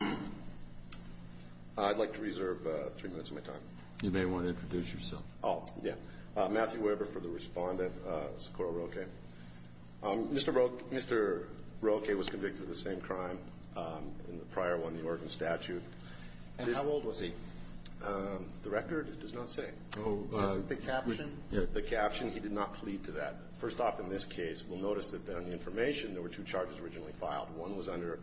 I'd like to reserve three minutes of my time. You may want to introduce yourself. Oh, yeah. Matthew Weber for the respondent, Socorro Roque. Mr. Roque was convicted of the same crime in the prior one, the Oregon statute. And how old was he? The record does not say. Oh, the caption? The caption, he did not plead to that. First off, in this case, we'll notice that on the information there were two charges originally filed. One was under,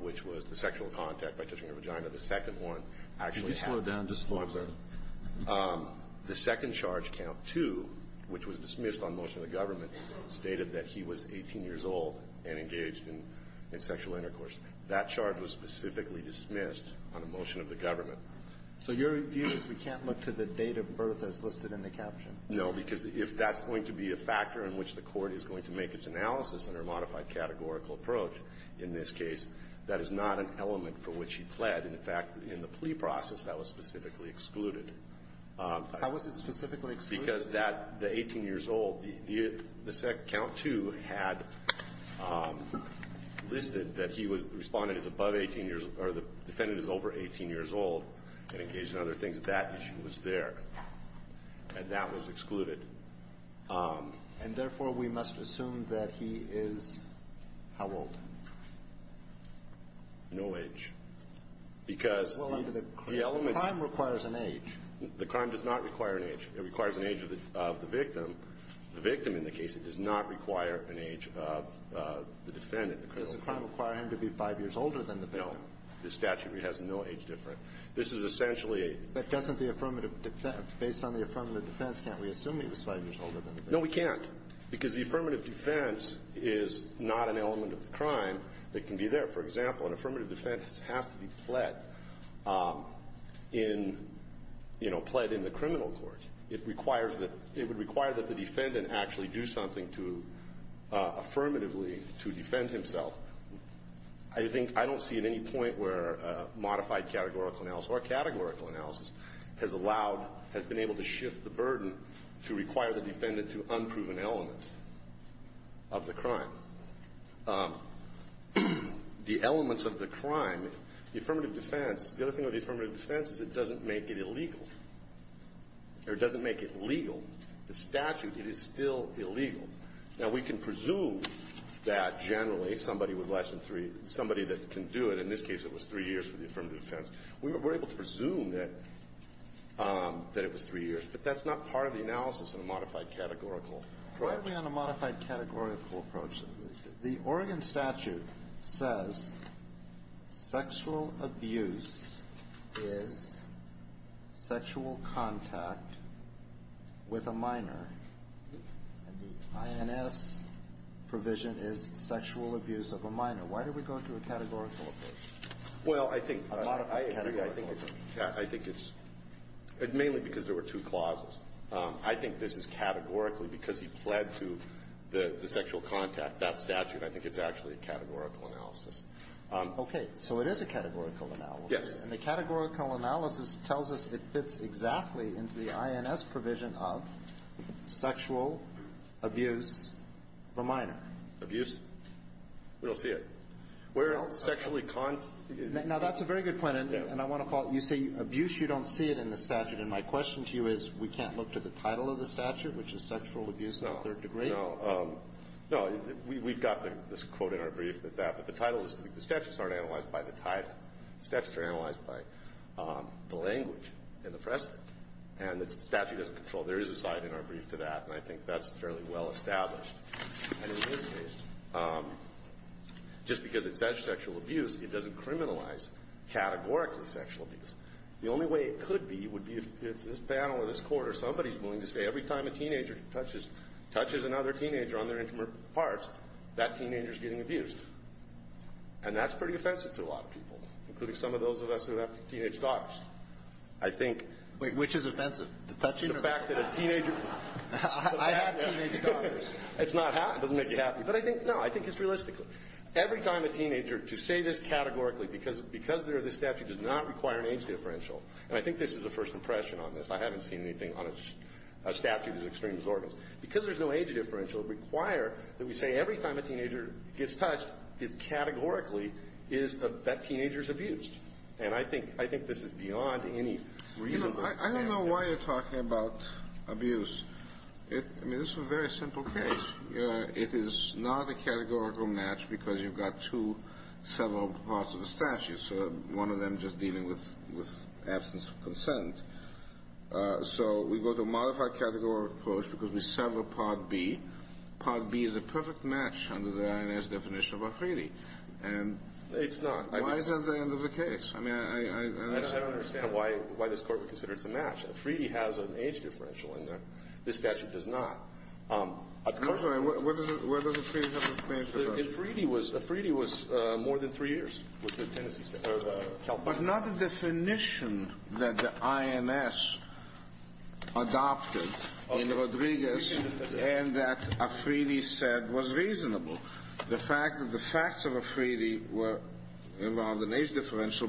which was the sexual contact by touching her vagina. The second one actually had. Could you slow down just for a second? The second charge, count two, which was dismissed on motion of the government, stated that he was 18 years old and engaged in sexual intercourse. That charge was specifically dismissed on a motion of the government. So your view is we can't look to the date of birth as listed in the caption? No, because if that's going to be a factor in which the court is going to make its analysis under a modified categorical approach in this case, that is not an element for which he pled. And, in fact, in the plea process, that was specifically excluded. How was it specifically excluded? Because that, the 18 years old, the count two had listed that he was, the respondent is above 18 years, or the defendant is over 18 years old and engaged in other things. That issue was there. And that was excluded. And, therefore, we must assume that he is how old? No age. Because the elements. Well, the crime requires an age. The crime does not require an age. It requires an age of the victim. The victim in the case, it does not require an age of the defendant. Does the crime require him to be 5 years older than the victim? No. The statute has no age difference. This is essentially a. But doesn't the affirmative defense, based on the affirmative defense, can't we assume that he is 5 years older than the victim? No, we can't. Because the affirmative defense is not an element of the crime that can be there. For example, an affirmative defense has to be pled in, you know, pled in the criminal court. It requires that, it would require that the defendant actually do something to, affirmatively, to defend himself. I think, I don't see at any point where modified categorical analysis or categorical analysis has allowed, has been able to shift the burden to require the defendant to unproven element of the crime. The elements of the crime, the affirmative defense, the other thing with the affirmative defense is it doesn't make it illegal. Or it doesn't make it legal. The statute, it is still illegal. Now, we can presume that generally somebody with less than 3, somebody that can do it, in this case it was 3 years for the affirmative defense. We're able to presume that it was 3 years. But that's not part of the analysis in a modified categorical approach. Why are we on a modified categorical approach? The Oregon statute says sexual abuse is sexual contact with a minor. And the INS provision is sexual abuse of a minor. Why do we go to a categorical approach? Well, I think I agree. I think it's mainly because there were two clauses. I think this is categorically, because he pled to the sexual contact, that statute, I think it's actually a categorical analysis. Okay. So it is a categorical analysis. Yes. And the categorical analysis tells us it fits exactly into the INS provision of sexual abuse of a minor. Abuse? We don't see it. We're sexually contact. Now, that's a very good point. And I want to call it, you say abuse. You don't see it in the statute. And my question to you is we can't look to the title of the statute, which is sexual abuse in the third degree? No. No. We've got this quote in our brief that that, but the title is, the statutes aren't analyzed by the title. The statutes are analyzed by the language and the precedent. And the statute doesn't control. There is a side in our brief to that. And I think that's fairly well established. And in this case, just because it says sexual abuse, it doesn't criminalize categorically sexual abuse. The only way it could be would be if it's this panel in this court or somebody is willing to say every time a teenager touches another teenager on their intimate parts, that teenager is getting abused. And that's pretty offensive to a lot of people, including some of those of us who have teenage daughters. I think. Wait. Which is offensive? The fact that a teenager. I have teenage daughters. It's not. It doesn't make you happy. But I think, no, I think it's realistic. Every time a teenager, to say this categorically, because there is a statute, does not require an age differential. And I think this is a first impression on this. I haven't seen anything on a statute as extreme as Oregon's. Because there's no age differential, it would require that we say every time a teenager gets touched, it categorically is that teenager is abused. And I think this is beyond any reasonable standard. I don't know why you're talking about abuse. I mean, this is a very simple case. It is not a categorical match because you've got two several parts of the statute, so one of them just dealing with absence of consent. So we go to a modified categorical approach because we sever Part B. Part B is a perfect match under the INS definition of a freebie. It's not. Why is that the end of the case? I mean, I don't know. I just don't understand why this court would consider it's a match. A freebie has an age differential in there. This statute does not. I'm sorry. Where does a freebie have an age differential? A freebie was more than three years. But not the definition that the INS adopted in Rodriguez and that a freebie said was reasonable. The fact that the facts of a freebie were around an age differential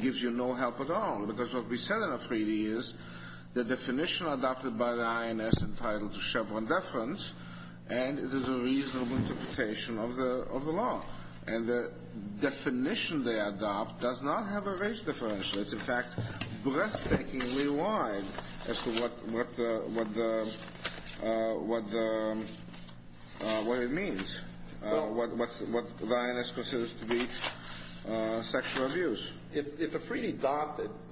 gives you no help at all. Because what we said in a freebie is the definition adopted by the INS entitled to Chevron deference and it is a reasonable interpretation of the law. And the definition they adopt does not have an age differential. It's, in fact, breathtakingly wide as to what it means, what the INS considers to be sexual abuse. If a freebie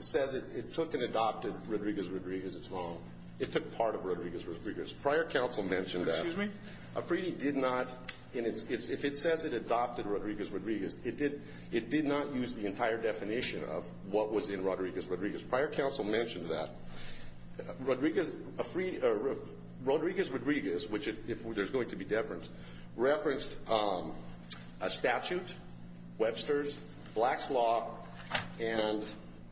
says it took and adopted Rodriguez-Rodriguez, it's wrong. It took part of Rodriguez-Rodriguez. Prior counsel mentioned that. Excuse me? A freebie did not. If it says it adopted Rodriguez-Rodriguez, it did not use the entire definition of what was in Rodriguez-Rodriguez. Prior counsel mentioned that. Rodriguez-Rodriguez, if there's going to be deference, referenced a statute, Webster's, Black's Law, and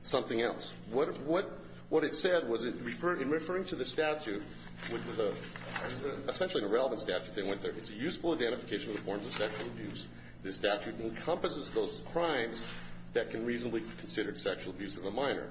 something else. What it said was in referring to the statute, which was essentially an irrelevant statute, they went there, it's a useful identification of the forms of sexual abuse. The statute encompasses those crimes that can reasonably be considered sexual abuse in the minor.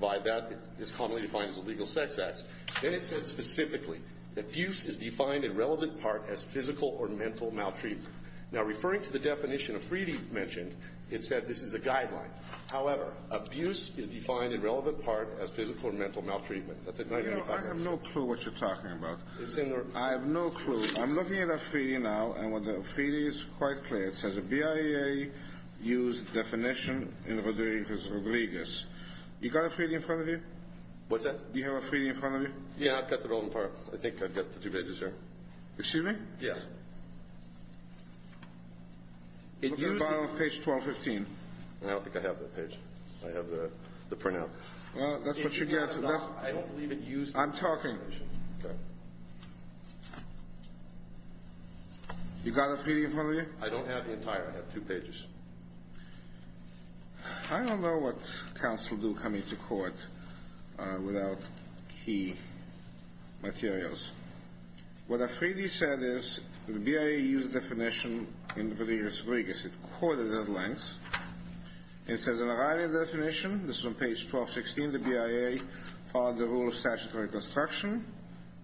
By that, it's commonly defined as a legal sex act. Then it said specifically, abuse is defined in relevant part as physical or mental maltreatment. Now, referring to the definition a freebie mentioned, it said this is a guideline. However, abuse is defined in relevant part as physical or mental maltreatment. That's a great identification. I have no clue what you're talking about. I have no clue. I'm looking at a freebie now, and the freebie is quite clear. It says a BIA used definition in Rodriguez-Rodriguez. You got a freebie in front of you? What's that? You have a freebie in front of you? Yeah, I've got the rolling part. I think I've got the two pages there. Excuse me? Yes. Look at the bottom of page 1215. I don't think I have that page. I have the printout. Well, that's what you get. I don't believe it used the definition. I'm talking. Okay. You got a freebie in front of you? I don't have the entire. I have two pages. I don't know what counsel do coming to court without key materials. What a freebie said is the BIA used definition in Rodriguez-Rodriguez. It quoted at length. It says in the writing of the definition, this is on page 1216, the BIA followed the rule of statutory construction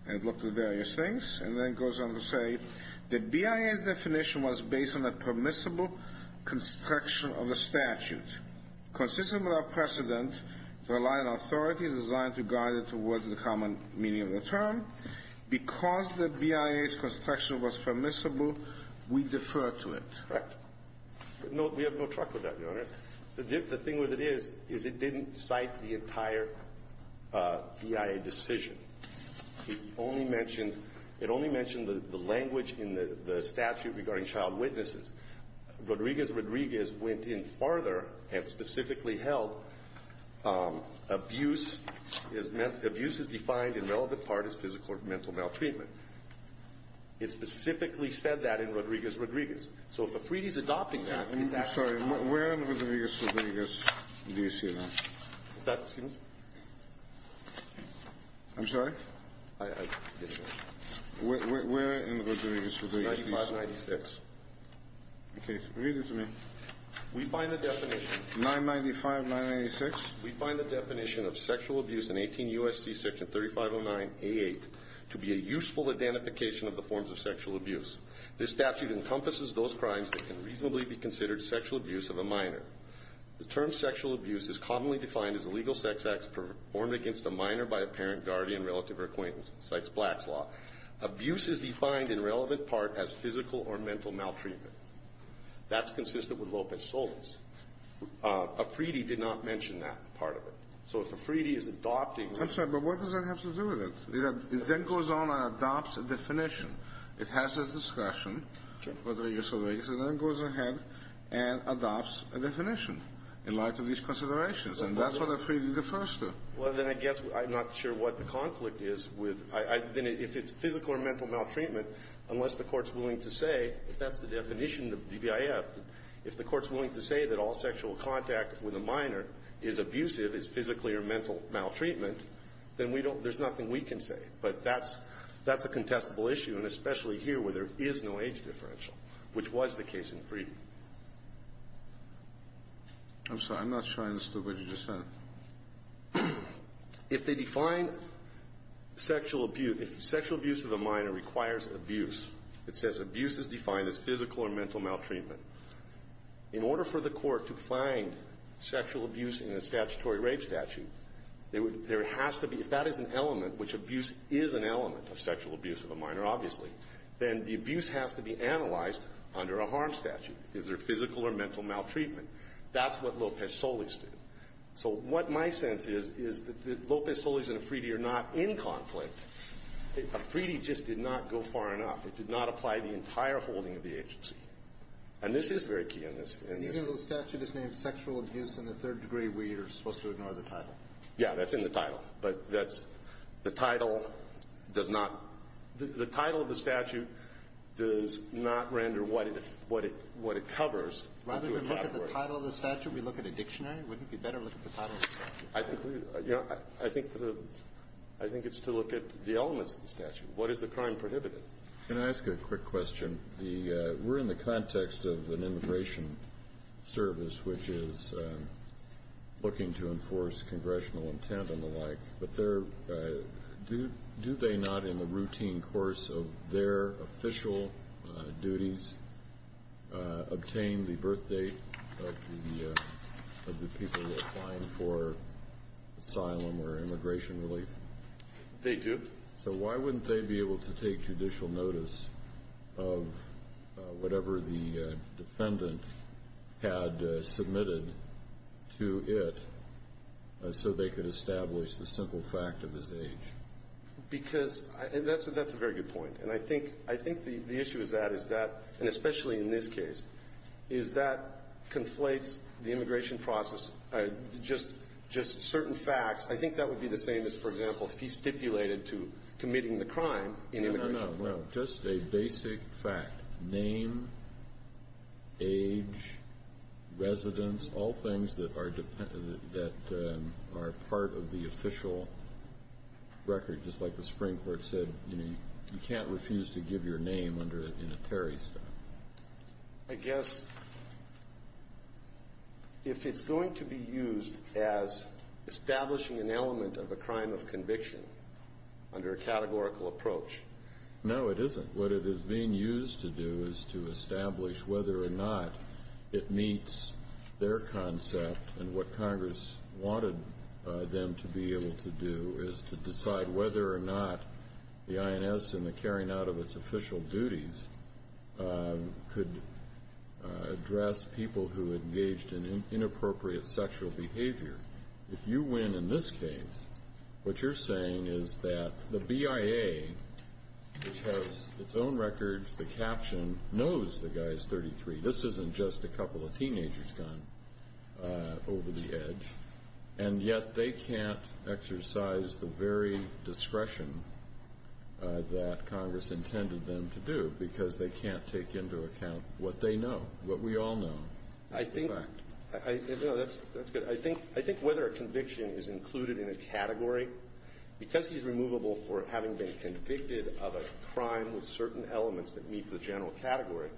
and looked at various things, and then goes on to say, the BIA's definition was based on a permissible construction of the statute. Consistent with our precedent, the line of authority is designed to guide it towards the common meaning of the term. Because the BIA's construction was permissible, we defer to it. Correct. We have no truck with that, Your Honor. The thing with it is, is it didn't cite the entire BIA decision. It only mentioned the language in the statute regarding child witnesses. Rodriguez-Rodriguez went in farther and specifically held abuse is defined in relevant part as physical or mental maltreatment. It specifically said that in Rodriguez-Rodriguez. So if a freebie is adopting that, it's actually not. I'm sorry. Where in Rodriguez-Rodriguez do you see that? Is that the statement? I'm sorry? I didn't hear. Where in Rodriguez-Rodriguez do you see that? 9596. Okay. Read it to me. We find the definition. 995-996. We find the definition of sexual abuse in 18 U.S.C. section 3509A8 to be a useful identification of the forms of sexual abuse. This statute encompasses those crimes that can reasonably be considered sexual abuse of a minor. The term sexual abuse is commonly defined as a legal sex act performed against a minor by a parent, guardian, relative, or acquaintance. It cites Black's Law. Abuse is defined in relevant part as physical or mental maltreatment. That's consistent with Lopez-Solis. A freebie did not mention that part of it. So if a freebie is adopting that. I'm sorry, but what does that have to do with it? It then goes on and adopts a definition. It has its discretion. Okay. And then it goes ahead and adopts a definition in light of these considerations. And that's what a freebie defers to. Well, then I guess I'm not sure what the conflict is with. Then if it's physical or mental maltreatment, unless the Court's willing to say that that's the definition of DBIF. If the Court's willing to say that all sexual contact with a minor is abusive, is physically or mental maltreatment, then we don't, there's nothing we can say. But that's a contestable issue, and especially here where there is no age differential. Which was the case in freebie. I'm sorry. I'm not sure I understood what you just said. If they define sexual abuse, if sexual abuse of a minor requires abuse, it says abuse is defined as physical or mental maltreatment. In order for the Court to find sexual abuse in a statutory rape statute, there has to be, if that is an element, which abuse is an element of sexual abuse of a minor, obviously, then the abuse has to be analyzed under a harm statute. Is there physical or mental maltreatment? That's what Lopez-Solis did. So what my sense is, is that Lopez-Solis and Afridi are not in conflict. Afridi just did not go far enough. It did not apply to the entire holding of the agency. And this is very key in this. And even though the statute is named sexual abuse in the third degree, we are supposed to ignore the title. Yeah, that's in the title. But that's the title does not – the title of the statute does not render what it covers. Rather we look at the title of the statute, we look at a dictionary. Wouldn't it be better to look at the title of the statute? I think it's to look at the elements of the statute. What is the crime prohibitive? Can I ask a quick question? We're in the context of an immigration service, which is looking to enforce congressional intent and the like. But do they not, in the routine course of their official duties, obtain the birthdate of the people applying for asylum or immigration relief? They do. So why wouldn't they be able to take judicial notice of whatever the defendant had submitted to it so they could establish the simple fact of his age? Because that's a very good point. And I think the issue with that is that, and especially in this case, is that conflates the immigration process, just certain facts. I think that would be the same as, for example, if he stipulated to committing the crime in immigration. No, no, no. Just a basic fact. Name, age, residence, all things that are part of the official record, just like the Supreme Court said, you can't refuse to give your name in a Terry statute. I guess if it's going to be used as establishing an element of a crime of conviction under a categorical approach. No, it isn't. What it is being used to do is to establish whether or not it meets their concept, and what Congress wanted them to be able to do is to decide whether or not the INS and the carrying out of its official duties could address people who engaged in inappropriate sexual behavior. If you win in this case, what you're saying is that the BIA, which has its own records, the caption, knows the guy is 33. This isn't just a couple of teenagers gone over the edge, and yet they can't exercise the very discretion that Congress intended them to do because they can't take into account what they know, what we all know. I think that's good. I think whether a conviction is included in a category, because he's removable for having been convicted of a crime with certain elements that meets the general category,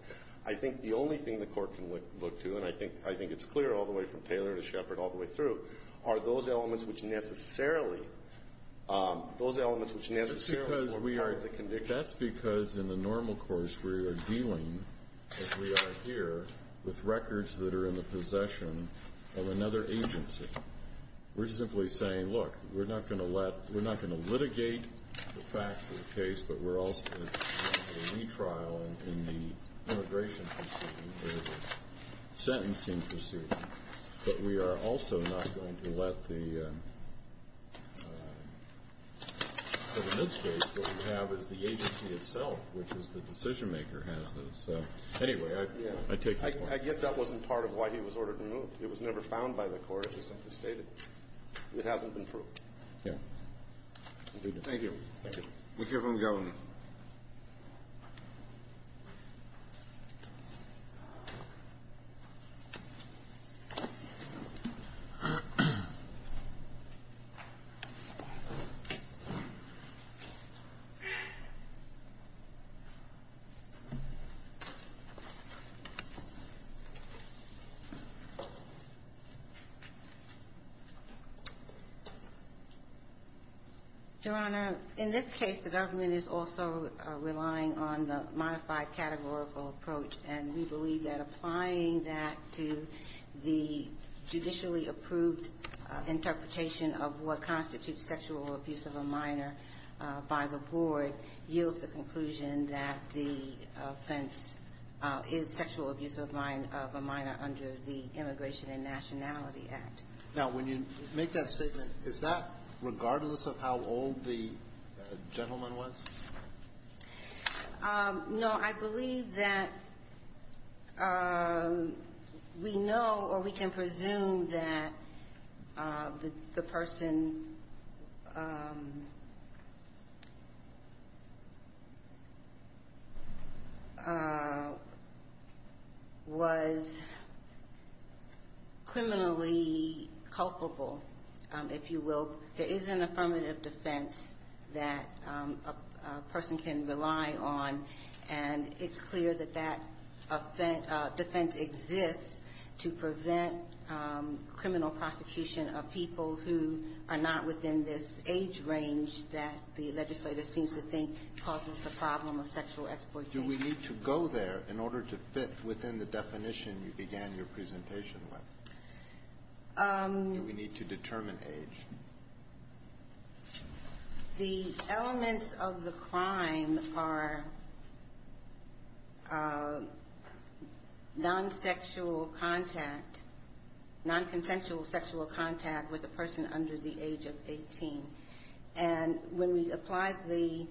I think the only thing the Court can look to, and I think it's clear all the way from Taylor to Shepard all the way through, are those elements which necessarily form part of the conviction. That's because in the normal course we are dealing, as we are here, with records that are in the possession of another agency. We're simply saying, look, we're not going to litigate the facts of the case, but we're also going to do a retrial in the immigration proceeding or the sentencing proceeding, but we are also not going to let the mistake that we have is the agency itself, which is the decision-maker has those. So, anyway, I take your point. I guess that wasn't part of why he was ordered removed. It was never found by the Court. It was simply stated. It hasn't been proved. Yeah. Thank you. Thank you very much. In this case, the government is also relying on the modified categorical approach. And we believe that applying that to the judicially-approved interpretation of what constitutes sexual abuse of a minor by the board yields the conclusion that the offense is sexual abuse of a minor under the Immigration and Nationality Act. Now, when you make that statement, is that regardless of how old the gentleman was? No. I believe that we know or we can presume that the person was criminally culpable, if you will. There is an affirmative defense that a person can rely on. And it's clear that that defense exists to prevent criminal prosecution of people who are not within this age range that the legislator seems to think causes the problem of sexual exploitation. Do we need to go there in order to fit within the definition you began your presentation with? Do we need to determine age? The elements of the crime are non-sexual contact, non-consensual sexual contact with a person under the age of 18. And when we apply the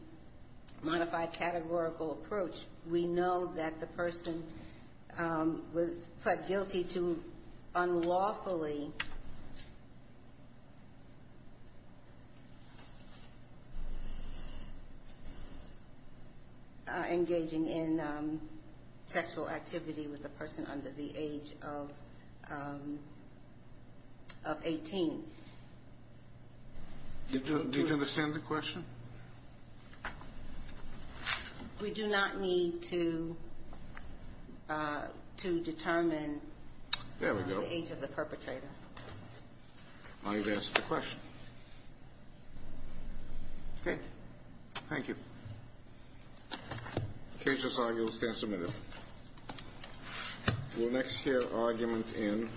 modified categorical approach, we know that the person was pled guilty to unlawfully engaging in sexual activity with a person under the age of 18. Do you understand the question? We do not need to determine the age of the perpetrator. There we go. Now you've answered the question. Okay. Thank you. KHSI, you'll stand submitted. We'll next hear argument in.